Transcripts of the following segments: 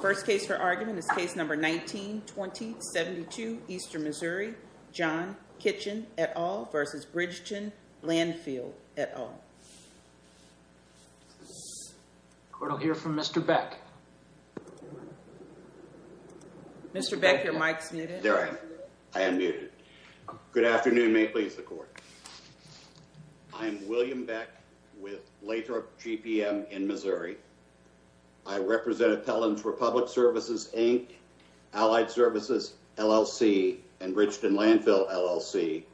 First case for argument is case number 19-20-72, Eastern Missouri. John Kitchin et al. v. Bridgeton Landfill et al. Court will hear from Mr. Beck. Mr. Beck, your mic's muted. There I am. I am muted. Good afternoon. May it please the court. I am William Beck with Lathrop GPM in Missouri. I represent appellants for Public Services, Inc., Allied Services, LLC, and Bridgeton Landfill, LLC.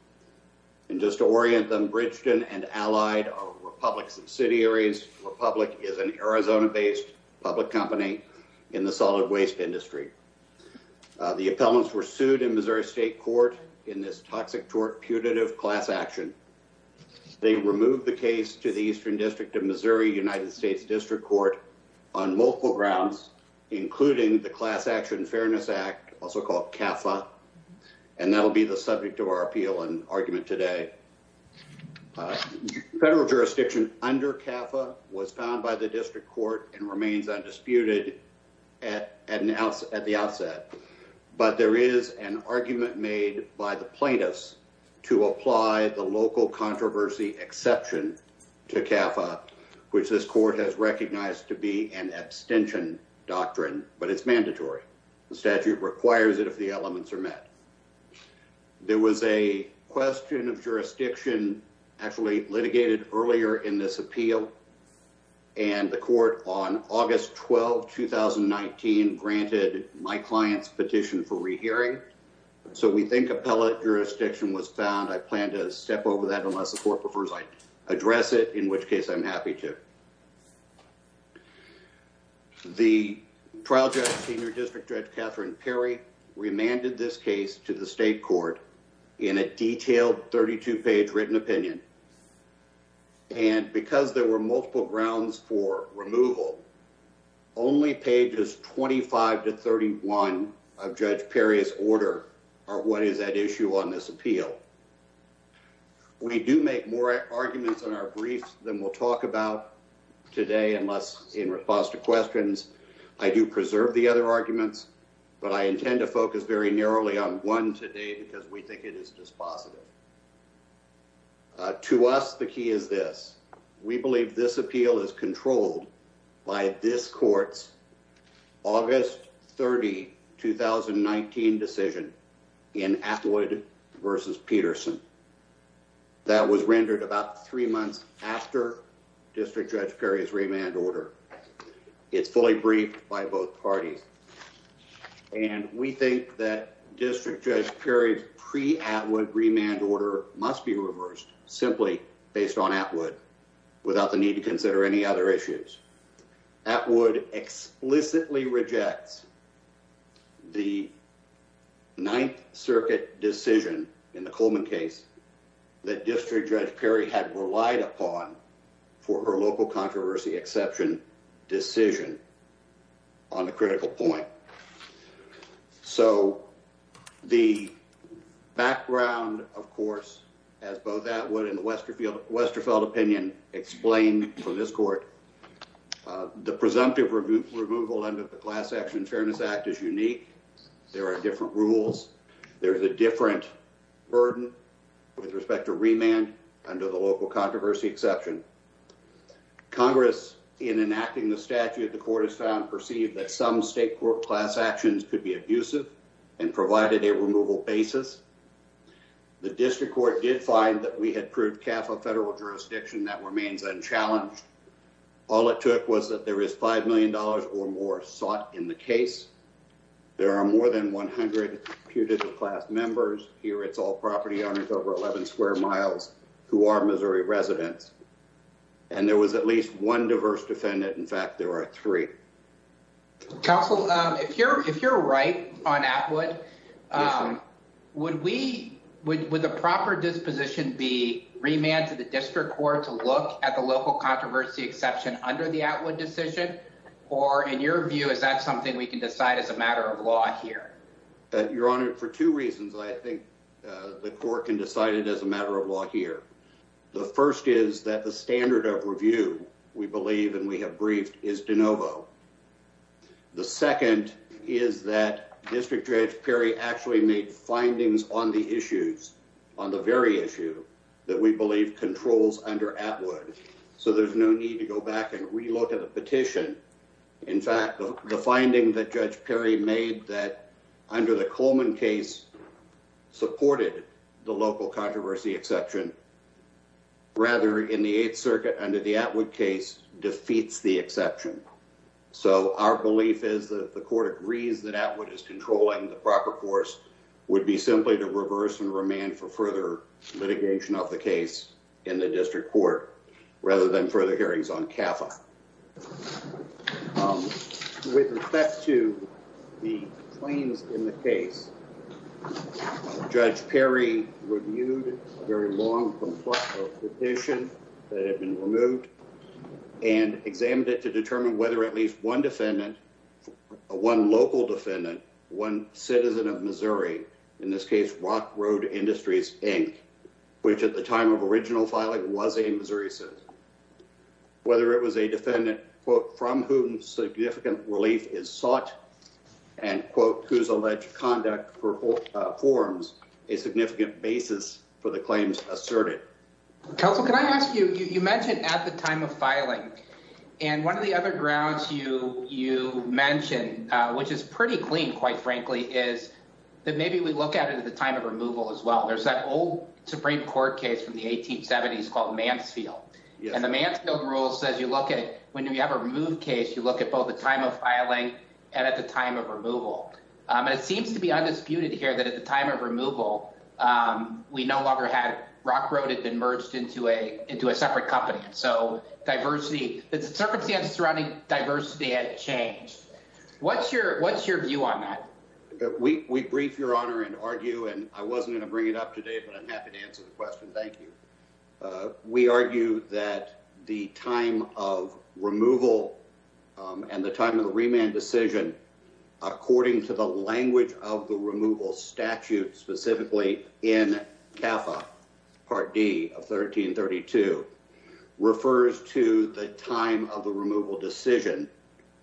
And just to orient them, Bridgeton and Allied are Republic subsidiaries. Republic is an Arizona-based public company in the solid waste industry. The appellants were sued in Missouri State Court in this toxic tort putative class action. They removed the case to the Eastern District of Missouri United States District Court on multiple grounds, including the Class Action Fairness Act, also called CAFA. And that will be the subject of our appeal and argument today. Federal jurisdiction under CAFA was found by the District Court and remains undisputed at the outset. But there is an argument made by the plaintiffs to apply the local controversy exception to CAFA, which this court has recognized to be an abstention doctrine, but it's mandatory. The statute requires it if the elements are met. There was a question of jurisdiction actually litigated earlier in this appeal. And the court on August 12, 2019, granted my client's petition for rehearing. So we think appellate jurisdiction was found. I plan to step over that unless the court prefers I address it, in which case I'm happy to. The trial judge, Senior District Judge Catherine Perry, remanded this case to the state court in a detailed 32-page written opinion. And because there were multiple grounds for removal, only pages 25 to 31 of Judge Perry's order are what is at issue on this appeal. We do make more arguments in our briefs than we'll talk about today unless in response to questions. I do preserve the other arguments, but I intend to focus very narrowly on one today because we think it is dispositive. To us, the key is this. We believe this appeal is controlled by this court's August 30, 2019, decision in Atwood v. Peterson. That was rendered about three months after District Judge Perry's remand order. It's fully briefed by both parties. And we think that District Judge Perry's pre-Atwood remand order must be reversed simply based on Atwood without the need to consider any other issues. Atwood explicitly rejects the Ninth Circuit decision in the Coleman case that District Judge Perry had relied upon for her local controversy exception decision on a critical point. So the background, of course, as both Atwood and the Westerfeld opinion explain from this court, the presumptive removal under the Class Action Fairness Act is unique. There are different rules. There is a different burden with respect to remand under the local controversy exception. Congress, in enacting the statute, the court has found perceived that some state court class actions could be abusive and provided a removal basis. The district court did find that we had proved CAFA federal jurisdiction that remains unchallenged. All it took was that there is $5 million or more sought in the case. There are more than 100 class members here. It's all property owners over 11 square miles who are Missouri residents. And there was at least one diverse defendant. In fact, there are three. Counsel, if you're right on Atwood, would the proper disposition be remand to the district court to look at the local controversy exception under the Atwood decision? Or in your view, is that something we can decide as a matter of law here? Your Honor, for two reasons, I think the court can decide it as a matter of law here. The first is that the standard of review we believe and we have briefed is de novo. The second is that District Judge Perry actually made findings on the issues on the very issue that we believe controls under Atwood. So there's no need to go back and relook at a petition. In fact, the finding that Judge Perry made that under the Coleman case supported the local controversy exception. Rather, in the 8th Circuit under the Atwood case defeats the exception. So our belief is that the court agrees that Atwood is controlling the proper course would be simply to reverse and remand for further litigation of the case in the district court rather than further hearings on CAFA. With respect to the claims in the case, Judge Perry reviewed a very long petition that had been removed and examined it to determine whether at least one defendant, one local defendant, one citizen of Missouri, in this case, Rock Road Industries, Inc., which at the time of original filing was a Missouri citizen. Whether it was a defendant, quote, from whom significant relief is sought and quote, who's alleged conduct for forms a significant basis for the claims asserted. Counsel, can I ask you, you mentioned at the time of filing and one of the other grounds you you mentioned, which is pretty clean, quite frankly, is that maybe we look at it at the time of removal as well. There's that old Supreme Court case from the 1870s called Mansfield. And the Mansfield rule says you look at when you have a removed case, you look at both the time of filing and at the time of removal. And it seems to be undisputed here that at the time of removal, we no longer had Rock Road had been merged into a into a separate company. So diversity, the circumstances surrounding diversity had changed. What's your what's your view on that? We brief your honor and argue and I wasn't going to bring it up today, but I'm happy to answer the question. Thank you. We argue that the time of removal and the time of the remand decision, according to the language of the removal statute, specifically in part D of 1332, refers to the time of the removal decision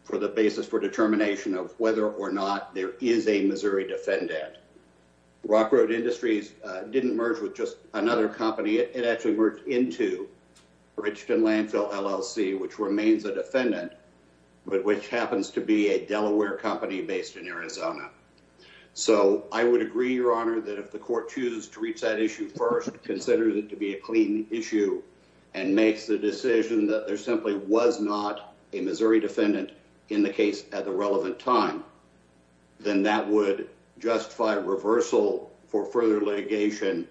for the basis for determination of whether or not there is a Missouri defendant. Rock Road Industries didn't merge with just another company. It actually worked into rich and landfill LLC, which remains a defendant, but which happens to be a Delaware company based in Arizona. So I would agree, your honor, that if the court chooses to reach that issue first, consider that to be a clean issue and makes the decision that there simply was not a Missouri defendant in the case at the relevant time. Then that would justify reversal for further litigation,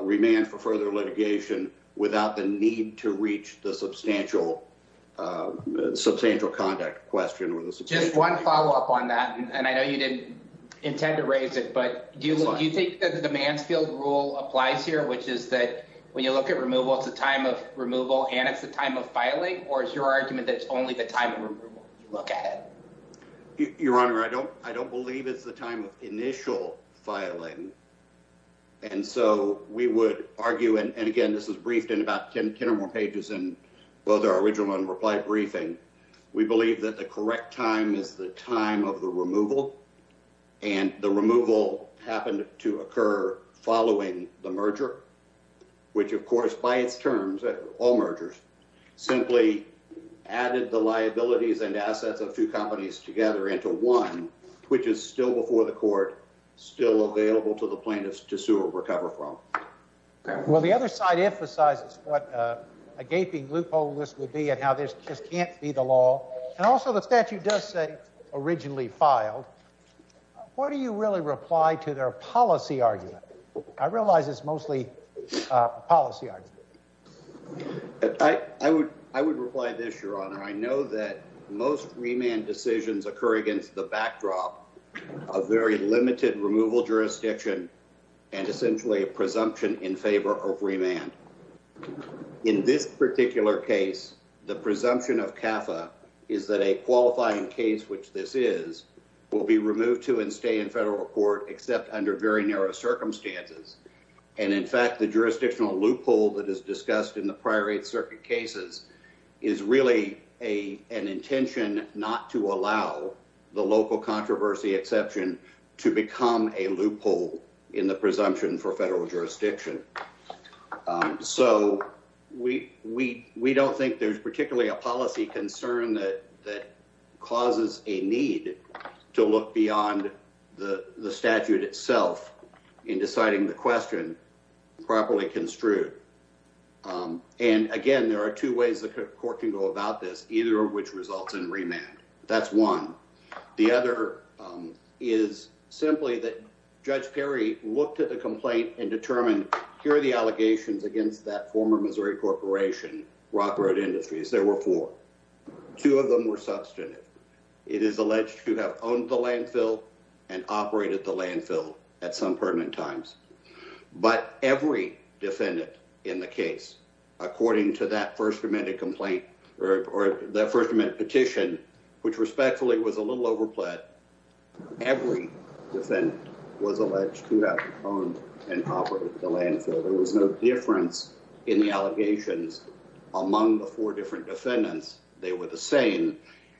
remand for further litigation without the need to reach the substantial, substantial conduct question or the just one follow up on that. And I know you didn't intend to raise it, but do you think that the demands field rule applies here, which is that when you look at removal, it's a time of removal and it's the time of filing. Or is your argument that it's only the time you look at it? Your honor, I don't I don't believe it's the time of initial filing. And so we would argue and again, this is briefed in about 10 or more pages and well, there are original and reply briefing. We believe that the correct time is the time of the removal. And the removal happened to occur following the merger, which, of course, by its terms, all mergers simply added the liabilities and assets of two companies together into one, which is still before the court, still available to the plaintiffs to sue or recover from. Well, the other side emphasizes what a gaping loophole this would be and how this just can't be the law. And also the statute does say originally filed. What do you really reply to their policy argument? I realize it's mostly policy. I would I would reply this, your honor. I know that most remand decisions occur against the backdrop of very limited removal jurisdiction and essentially a presumption in favor of remand. In this particular case, the presumption of Kappa is that a qualifying case, which this is will be removed to and stay in federal court, except under very narrow circumstances. And in fact, the jurisdictional loophole that is discussed in the prior eight circuit cases is really a an intention not to allow the local controversy exception to become a loophole in the presumption for federal jurisdiction. So we we we don't think there's particularly a policy concern that that causes a need to look beyond the statute itself in deciding the question properly construed. And again, there are two ways the court can go about this, either of which results in remand. That's one. The other is simply that Judge Perry looked at the complaint and determined here are the allegations against that former Missouri Corporation, Rock Road Industries. There were four. Two of them were substantive. It is alleged to have owned the landfill and operated the landfill at some pertinent times. But every defendant in the case, according to that first amendment complaint, or the first amendment petition, which respectfully was a little overplayed. Every defendant was alleged to have owned and operated the landfill. There was no difference in the allegations among the four different defendants. They were the same.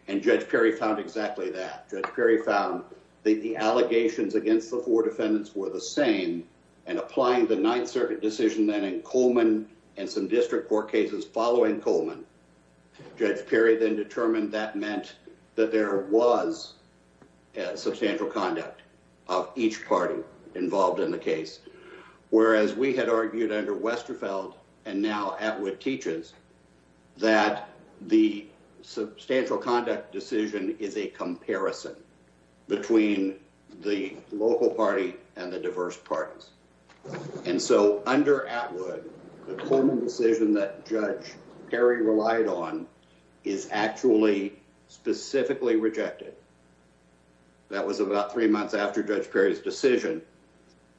And Judge Perry found exactly that. Judge Perry found the allegations against the four defendants were the same and applying the Ninth Circuit decision. Then in Coleman and some district court cases following Coleman, Judge Perry then determined that meant that there was substantial conduct of each party involved in the case. Whereas we had argued under Westerfeld and now Atwood teaches that the substantial conduct decision is a comparison between the local party and the diverse parties. And so under Atwood, the Coleman decision that Judge Perry relied on is actually specifically rejected. That was about three months after Judge Perry's decision.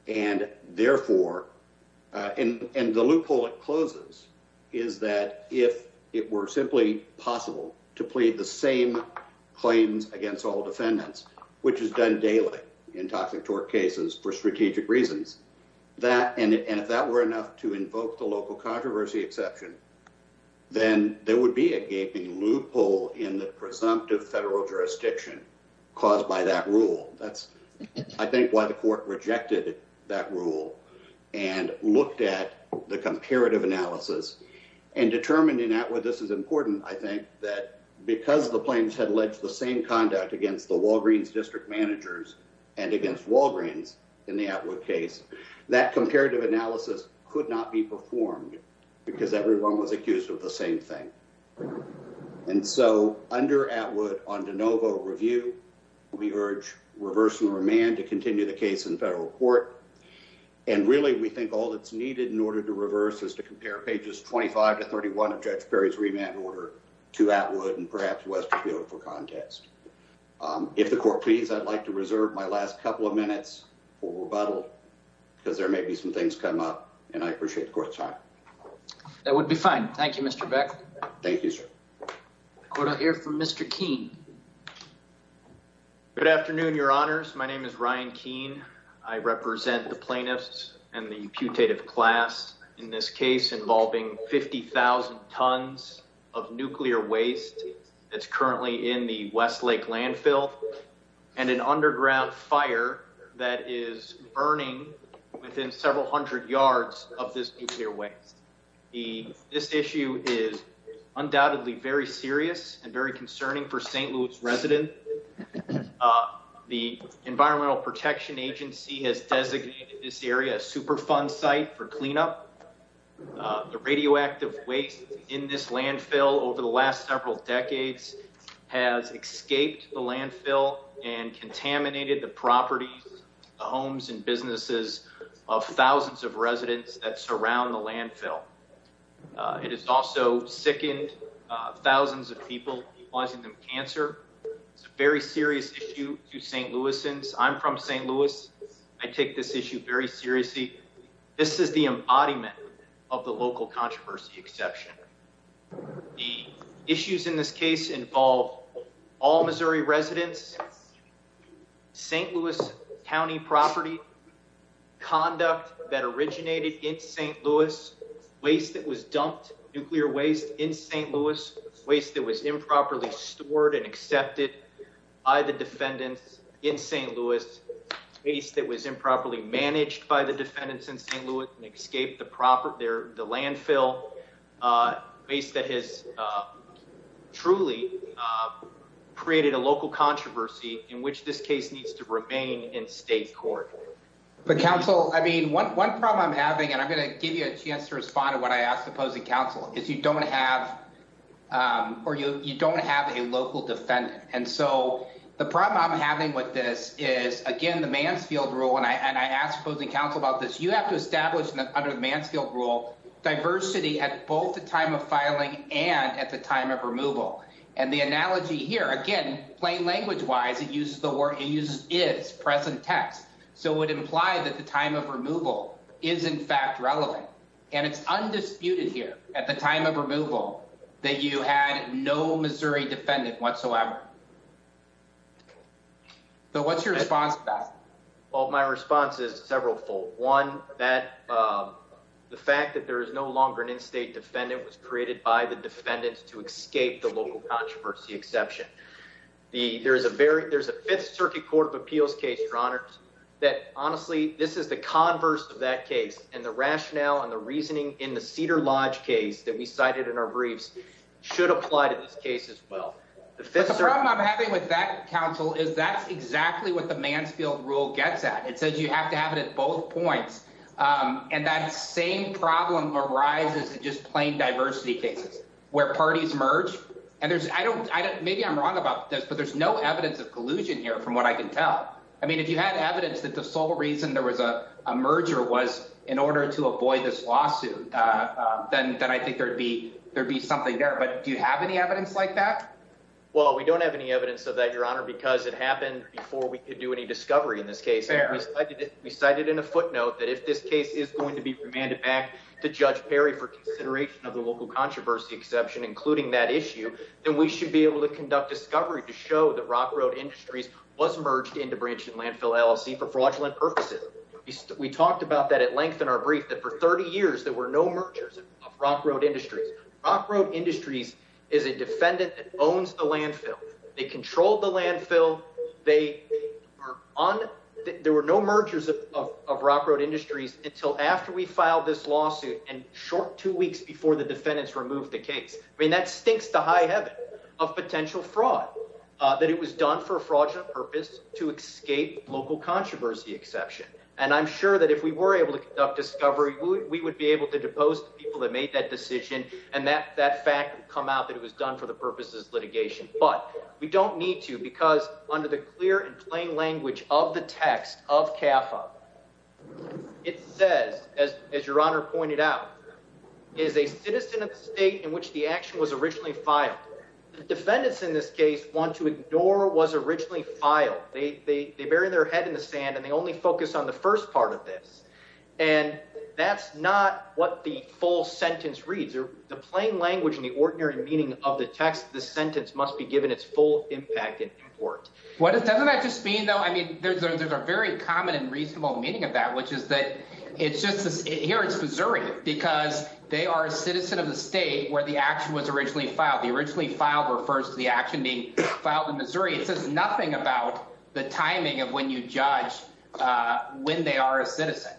And therefore, and the loophole it closes, is that if it were simply possible to plead the same claims against all defendants, which is done daily in toxic torque cases for strategic reasons. And if that were enough to invoke the local controversy exception, then there would be a gaping loophole in the presumptive federal jurisdiction caused by that rule. That's, I think, why the court rejected that rule and looked at the comparative analysis and determined in Atwood. I think that because the claims had alleged the same conduct against the Walgreens district managers and against Walgreens in the Atwood case, that comparative analysis could not be performed because everyone was accused of the same thing. And so under Atwood on de novo review, we urge reverse and remand to continue the case in federal court. And really, we think all that's needed in order to reverse is to compare pages 25 to 31 of Judge Perry's remand order to Atwood and perhaps Westerfield for contest. If the court please, I'd like to reserve my last couple of minutes for rebuttal because there may be some things come up and I appreciate the court's time. That would be fine. Thank you, Mr. Beck. Thank you, sir. Court, I'll hear from Mr. Keene. Good afternoon, your honors. My name is Ryan Keene. I represent the plaintiffs and the putative class in this case involving 50,000 tons of nuclear waste that's currently in the Westlake landfill and an underground fire that is burning within several hundred yards of this nuclear waste. This issue is undoubtedly very serious and very concerning for St. Louis residents. The Environmental Protection Agency has designated this area superfund site for cleanup. The radioactive waste in this landfill over the last several decades has escaped the landfill and contaminated the properties, the homes and businesses of thousands of residents that surround the landfill. It has also sickened thousands of people causing them cancer. It's a very serious issue to St. Louisans. I'm from St. Louis. I take this issue very seriously. This is the embodiment of the local controversy exception. The issues in this case involve all Missouri residents, St. Louis County property, conduct that originated in St. Louis, waste that was dumped, nuclear waste in St. Louis, waste that was improperly stored and accepted by the defendants in St. Louis, waste that was improperly managed by the defendants in St. Louis and escaped the landfill, waste that has truly created a local controversy in which this case needs to remain in state court. One problem I'm having, and I'm going to give you a chance to respond to what I asked opposing counsel, is you don't have a local defendant. The problem I'm having with this is, again, the Mansfield Rule, and I asked opposing counsel about this, you have to establish under the Mansfield Rule diversity at both the time of filing and at the time of removal. And the analogy here, again, plain language wise, it uses the word, it uses is present text. So it would imply that the time of removal is in fact relevant. And it's undisputed here at the time of removal that you had no Missouri defendant whatsoever. Well, my response is several fold. One, the fact that there is no longer an in-state defendant was created by the defendants to escape the local controversy exception. There's a Fifth Circuit Court of Appeals case, Your Honors, that honestly, this is the converse of that case. And the rationale and the reasoning in the Cedar Lodge case that we cited in our briefs should apply to this case as well. The problem I'm having with that, counsel, is that's exactly what the Mansfield Rule gets at. It says you have to have it at both points. And that same problem arises in just plain diversity cases where parties merge. And maybe I'm wrong about this, but there's no evidence of collusion here from what I can tell. I mean, if you had evidence that the sole reason there was a merger was in order to avoid this lawsuit, then I think there'd be something there. But do you have any evidence like that? Well, we don't have any evidence of that, Your Honor, because it happened before we could do any discovery in this case. We cited in a footnote that if this case is going to be remanded back to Judge Perry for consideration of the local controversy exception, including that issue, then we should be able to conduct discovery to show that Rock Road Industries was merged into Branch and Landfill LLC for fraudulent purposes. We talked about that at length in our brief, that for 30 years there were no mergers of Rock Road Industries. Rock Road Industries is a defendant that owns the landfill. They control the landfill. There were no mergers of Rock Road Industries until after we filed this lawsuit and short two weeks before the defendants removed the case. I mean, that stinks to high heaven of potential fraud, that it was done for a fraudulent purpose to escape local controversy exception. And I'm sure that if we were able to conduct discovery, we would be able to depose the people that made that decision. And that fact would come out that it was done for the purposes of litigation. But we don't need to because under the clear and plain language of the text of CAFA, it says, as Your Honor pointed out, it is a citizen of the state in which the action was originally filed. The defendants in this case want to ignore what was originally filed. They bury their head in the sand and they only focus on the first part of this. And that's not what the full sentence reads. The plain language and the ordinary meaning of the text of this sentence must be given its full impact and importance. Doesn't that just mean though, I mean, there's a very common and reasonable meaning of that, which is that it's just, here it's Missouri. Because they are a citizen of the state where the action was originally filed. I mean, it says nothing about the timing of when you judge when they are a citizen.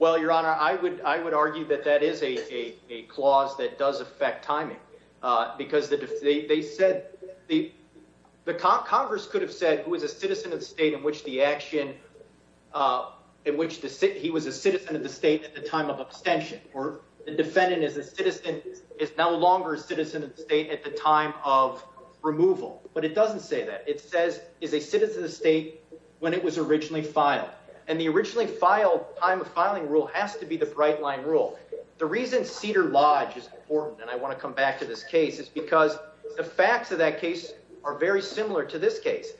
Well, Your Honor, I would argue that that is a clause that does affect timing. Because they said, the Congress could have said it was a citizen of the state in which the action, in which he was a citizen of the state at the time of abstention. Or the defendant is a citizen, is no longer a citizen of the state at the time of removal. But it doesn't say that. It says, is a citizen of the state when it was originally filed. And the originally filed time of filing rule has to be the bright line rule. The reason Cedar Lodge is important, and I want to come back to this case, is because the facts of that case are very similar to this case.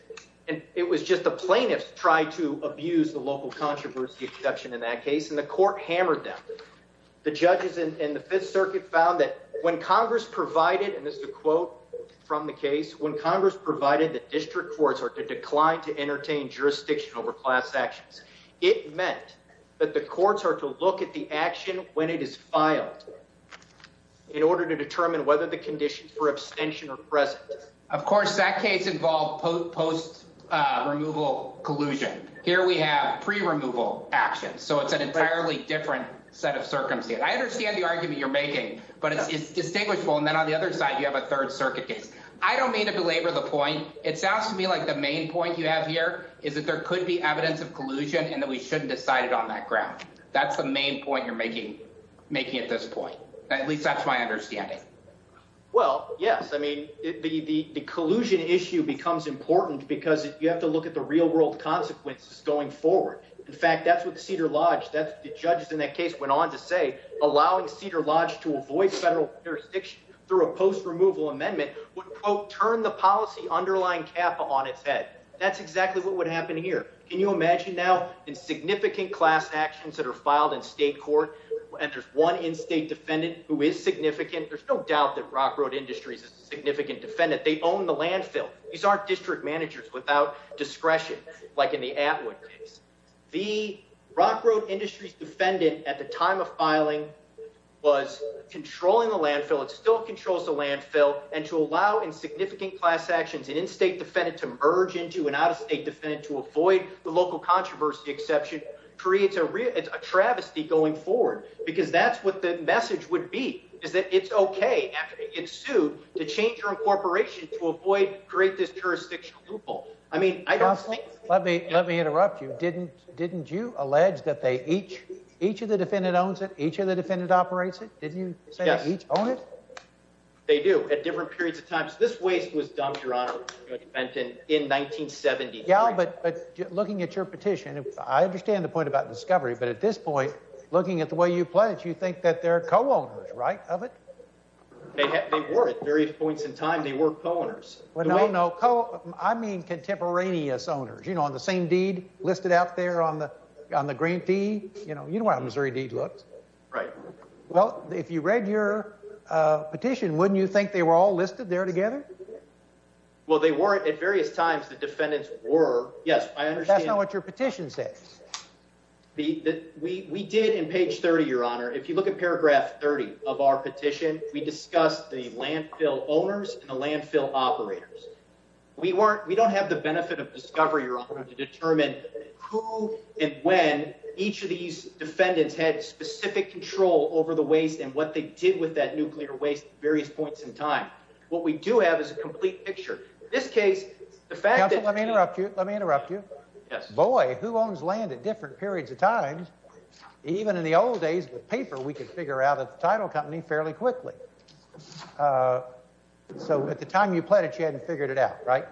And it was just the plaintiffs tried to abuse the local controversy exception in that case, and the court hammered them. The judges in the Fifth Circuit found that when Congress provided, and this is a quote from the case, when Congress provided that district courts are to decline to entertain jurisdiction over class actions, it meant that the courts are to look at the action when it is filed, in order to determine whether the conditions for abstention are present. Of course, that case involved post-removal collusion. Here we have pre-removal action, so it's an entirely different set of circumstances. I understand the argument you're making, but it's distinguishable. And then on the other side, you have a Third Circuit case. I don't mean to belabor the point. It sounds to me like the main point you have here is that there could be evidence of collusion, and that we shouldn't decide it on that ground. That's the main point you're making at this point. At least that's my understanding. Well, yes. The collusion issue becomes important because you have to look at the real-world consequences going forward. In fact, that's what Cedar Lodge, the judges in that case went on to say, allowing Cedar Lodge to avoid federal jurisdiction through a post-removal amendment would, quote, turn the policy underlying CAPA on its head. That's exactly what would happen here. Can you imagine now, in significant class actions that are filed in state court, and there's one in-state defendant who is significant, there's no doubt that Rock Road Industries is a significant defendant. They own the landfill. These aren't district managers without discretion, like in the Atwood case. The Rock Road Industries defendant at the time of filing was controlling the landfill. It still controls the landfill. And to allow in significant class actions an in-state defendant to merge into an out-of-state defendant to avoid the local controversy exception creates a travesty going forward because that's what the message would be, is that it's okay after it gets sued to change your incorporation to avoid, create this jurisdictional loophole. I mean, I don't think... Let me interrupt you. Didn't you allege that each of the defendants owns it? Each of the defendants operates it? Didn't you say they each own it? They do, at different periods of time. This waste was dumped, Your Honor, in 1973. Yeah, but looking at your petition, I understand the point about discovery, but at this point, looking at the way you play it, you think that they're co-owners, right, of it? They were. At various points in time, they were co-owners. Well, no, no. I mean contemporaneous owners, you know, on the same deed listed out there on the grantee. You know how a Missouri deed looks. Right. Well, if you read your petition, wouldn't you think they were all listed there together? Well, they weren't. At various times, the defendants were. Yes, I understand. That's not what your petition says. We did, in page 30, Your Honor, if you look at paragraph 30 of our petition, we discussed the landfill owners and the landfill operators. We don't have the benefit of discovery, Your Honor, to determine who and when each of these defendants had specific control over the waste and what they did with that nuclear waste at various points in time. What we do have is a complete picture. In this case, the fact that... Counsel, let me interrupt you. Let me interrupt you. Yes. Boy, who owns land at different periods of time? Even in the old days with paper, it would have been a lot simpler. So at the time you pledged, you hadn't figured it out, right?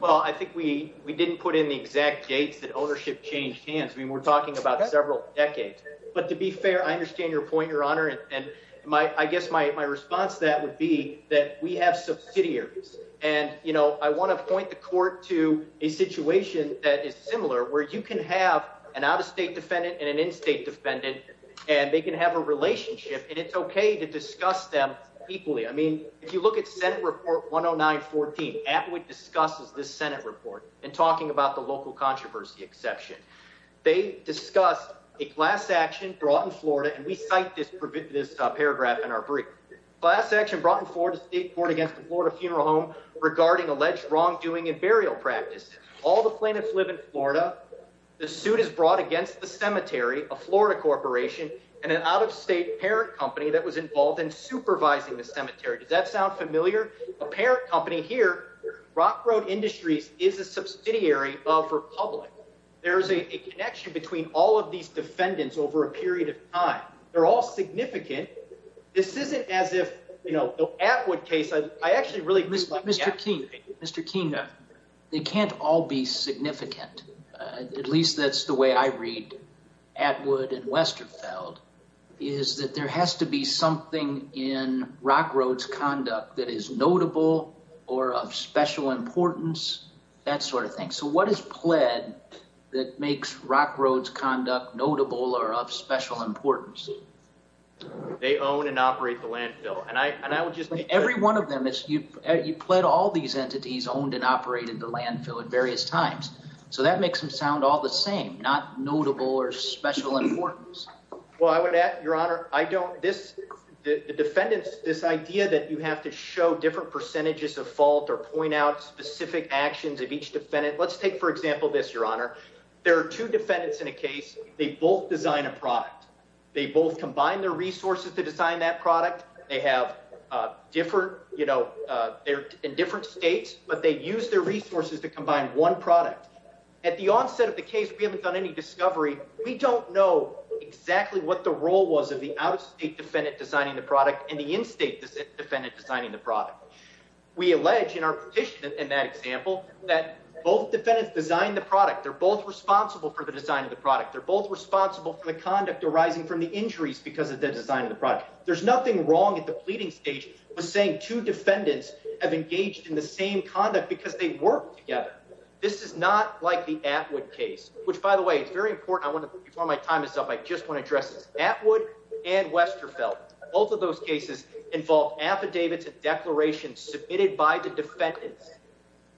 Well, I think we didn't put in the exact dates that ownership changed hands. I mean, we're talking about several decades. But to be fair, I understand your point, Your Honor. And I guess my response to that would be that we have subsidiaries. And, you know, I want to point the court to a situation that is similar, where you can have an out-of-state defendant and an in-state defendant, and they can have a relationship. And you can discuss them equally. I mean, if you look at Senate Report 10914, Atwood discusses this Senate report in talking about the local controversy exception. They discuss a class action brought in Florida. And we cite this paragraph in our brief. Class action brought in Florida State Court against a Florida funeral home regarding alleged wrongdoing in burial practice. All the plaintiffs live in Florida. The suit is brought against the cemetery, a Florida corporation, and an out-of-state parent company involved in supervising the cemetery. Does that sound familiar? A parent company here, Rock Road Industries, is a subsidiary of Republic. There's a connection between all of these defendants over a period of time. They're all significant. This isn't as if, you know, the Atwood case, I actually really... Mr. King, Mr. King, they can't all be significant. At least that's the way I read Atwood and Westerfeld, but they can't all be something in Rock Road's conduct that is notable or of special importance, that sort of thing. So what is pled that makes Rock Road's conduct notable or of special importance? They own and operate the landfill. And I would just... Every one of them is... You pled all these entities owned and operated the landfill at various times. So that makes them sound all the same, but the defendants, this idea that you have to show different percentages of fault or point out specific actions of each defendant... Let's take, for example, this, Your Honor. There are two defendants in a case. They both design a product. They both combine their resources to design that product. They're in different states, but they use their resources to combine one product. At the onset of the case, we haven't done any discovery. We haven't designed the product and the in-state defendant designing the product. We allege in our petition, in that example, that both defendants design the product. They're both responsible for the design of the product. They're both responsible for the conduct arising from the injuries because of the design of the product. There's nothing wrong at the pleading stage with saying two defendants in both cases involved affidavits and declarations submitted by the defendants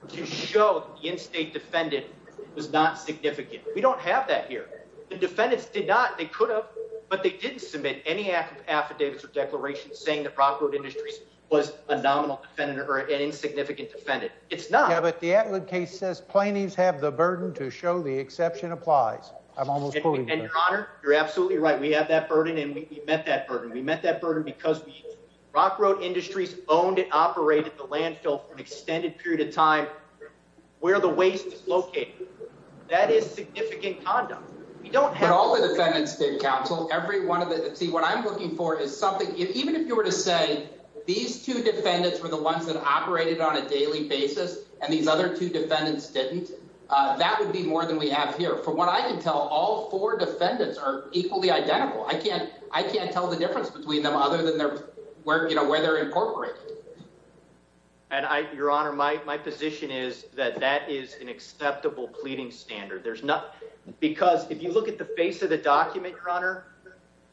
to show the in-state defendant was not significant. We don't have that here. The defendants did not. They could have, but they didn't submit any affidavits or declarations saying the Brockwood Industries was a nominal defendant or an insignificant defendant. It's not. Yeah, but the Atwood case means Brockwood Industries owned and operated the landfill for an extended period of time where the waste is located. That is significant conduct. But all the defendants did, Counsel. See, what I'm looking for is something, even if you were to say these two defendants were the ones that operated on a daily basis and these other two defendants didn't, that would be more than we have here. From what I can tell, all four defendants are equally identical. I can't tell the difference between them other than where they're incorporated. Your Honor, my position is that that is an acceptable pleading standard. Because if you look at the face of the document, Your Honor,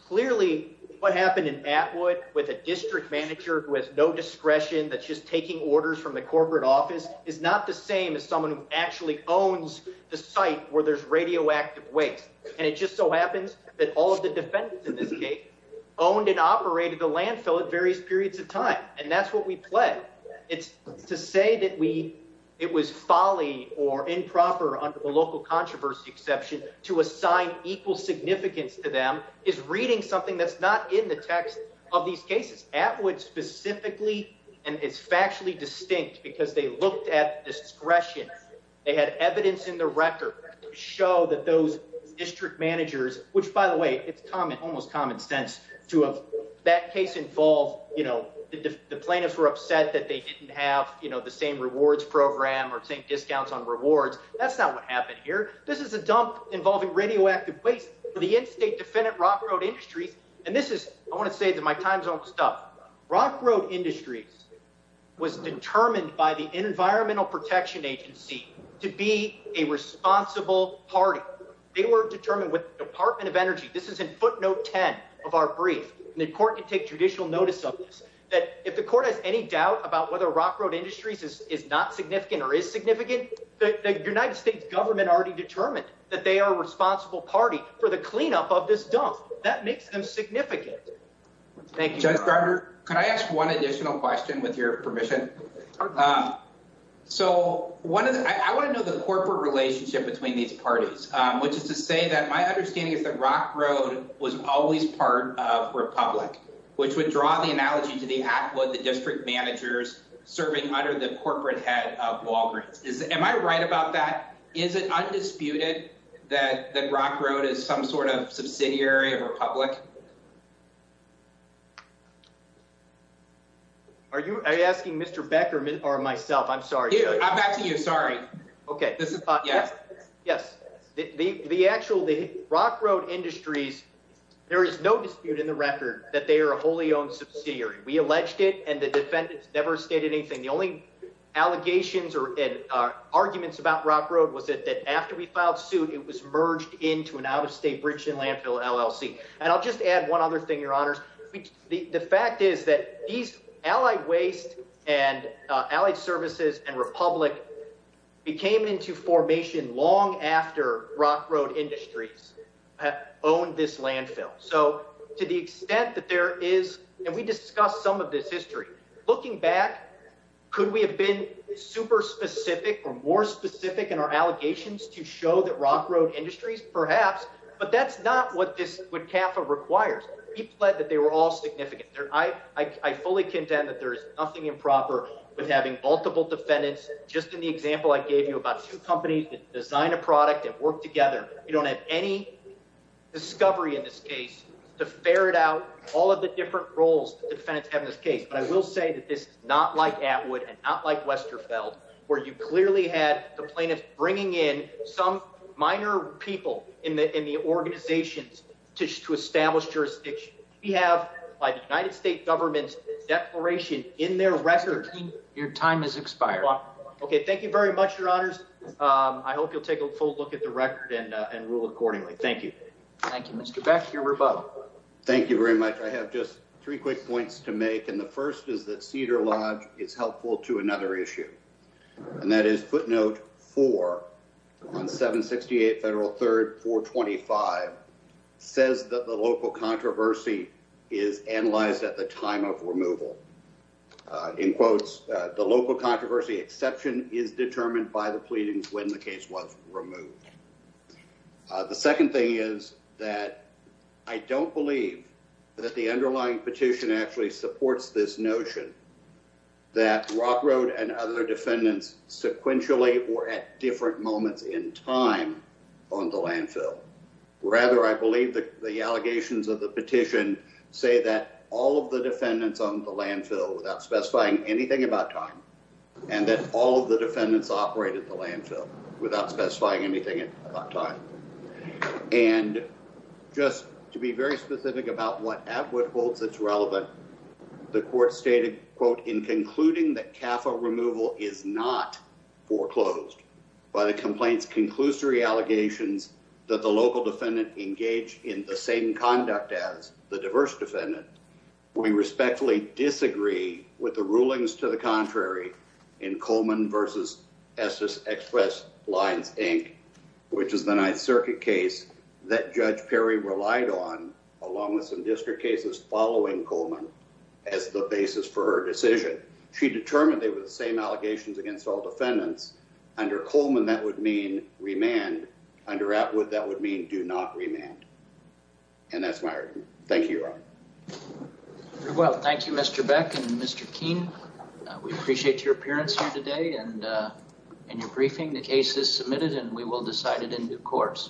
clearly what happened in Atwood with a district manager who has no discretion that's just taking orders from the corporate office is not the same as someone who claims that all of the defendants in this case owned and operated the landfill at various periods of time. And that's what we pledged. It's to say that we, it was folly or improper under the local controversy exception to assign equal significance to them is reading something that's not in the text of these cases. Atwood specifically and it's factually distinct because they looked at discretion. They had evidence in the record to show that those district managers who, by the way, it's almost common sense to have that case involve, the plaintiffs were upset that they didn't have the same rewards program or same discounts on rewards. That's not what happened here. This is a dump involving radioactive waste for the in-state defendant Rock Road Industries. And this is, I want to say this in my time zone stuff. Rock Road Industries was determined by the Environmental Protection Agency to be a responsible party. They were determined with the Department of Energy. This is in footnote 10 of our brief. And the court can take judicial notice of this. That if the court has any doubt about whether Rock Road Industries is not significant or is significant, the United States government already determined that they are a responsible party for the cleanup of this dump. That makes them significant. Thank you. Judge Gardner, can I ask one additional question with your permission? So one of the, I want to know the corporate relationship between these parties, which is to say that my understanding is that Rock Road was always part of Republic, which would draw the analogy to the district managers serving under the corporate head of Walgreens. Am I right about that? Is it undisputed that Rock Road is some sort of subsidiary of Republic? Are you asking Mr. Beckerman or myself? I'm sorry. I'm back to you. Sorry. OK. Yes. Yes. The actual the Rock Road Industries. There is no dispute in the record that they are a wholly owned subsidiary. We alleged it and the defendants never stated anything. The only allegations or arguments about Rock Road was that after we filed suit, it was merged into an out-of-state bridge and landfill LLC. And I'll just add one other thing, your honors. The fact is that these allied waste and allied services and Republic became into formation long after Rock Road Industries owned this landfill. So to the extent that there is and we discussed some of this history looking back, could we have been super specific or more specific in our allegations to show that Rock Road Industries? Perhaps. But that's not what this would Kappa requires. He pled that they were all significant. I fully condemn that there is nothing improper with having multiple defendants. Just in the example I gave you about two companies that design a product and work together. You don't have any discovery in this case to ferret out all of the different roles the defendants have in this case. But I will say that this is not like Atwood and not like Westerfeld where you clearly had the plaintiff bringing in some minor people in the organizations to establish jurisdiction. We have by the United States government declaration in their record. Your time has expired. OK, thank you very much, Your Honors. I hope you'll take a full look at the record and rule accordingly. Thank you. Thank you, Mr. Beck. Your rebuttal. Thank you very much. I have just three quick points to make. And the first is that Cedar Lodge is helpful to another issue. And that is footnote four on 768 Federal 3rd 425 says that the local controversy is analyzed at the time of removal. In quotes, the local controversy exception is determined by the pleadings when the case was removed. The second thing is that I don't believe that the underlying petition actually supports this notion that Rock Road and other defendants sequentially were at different moments in time on the landfill. Rather, I believe that the allegations of the petition say that all of the defendants on the landfill without specifying anything about time and that all of the defendants operated the landfill without specifying anything about time. And just to be very specific about what Atwood holds that's relevant, the court stated, quote, in concluding that CAFA removal is not foreclosed by the complaint's conclusory allegations that the local defendant engaged in the same conduct as the diverse defendant, we respectfully disagree with the rulings to the contrary in Coleman Essex Express Lines Inc., which is the Ninth Circuit case that Judge Perry relied on along with some district cases following Coleman as the basis for her decision. She determined they were the same allegations against all defendants. Under Coleman that would mean remand. Under Atwood that would mean do not remand. And that's my argument. Thank you, Your Honor. Very well. Thank you, Mr. Beck and Mr. Keene. We appreciate your appearance here today and your briefing. The case is submitted and we will decide it in due course.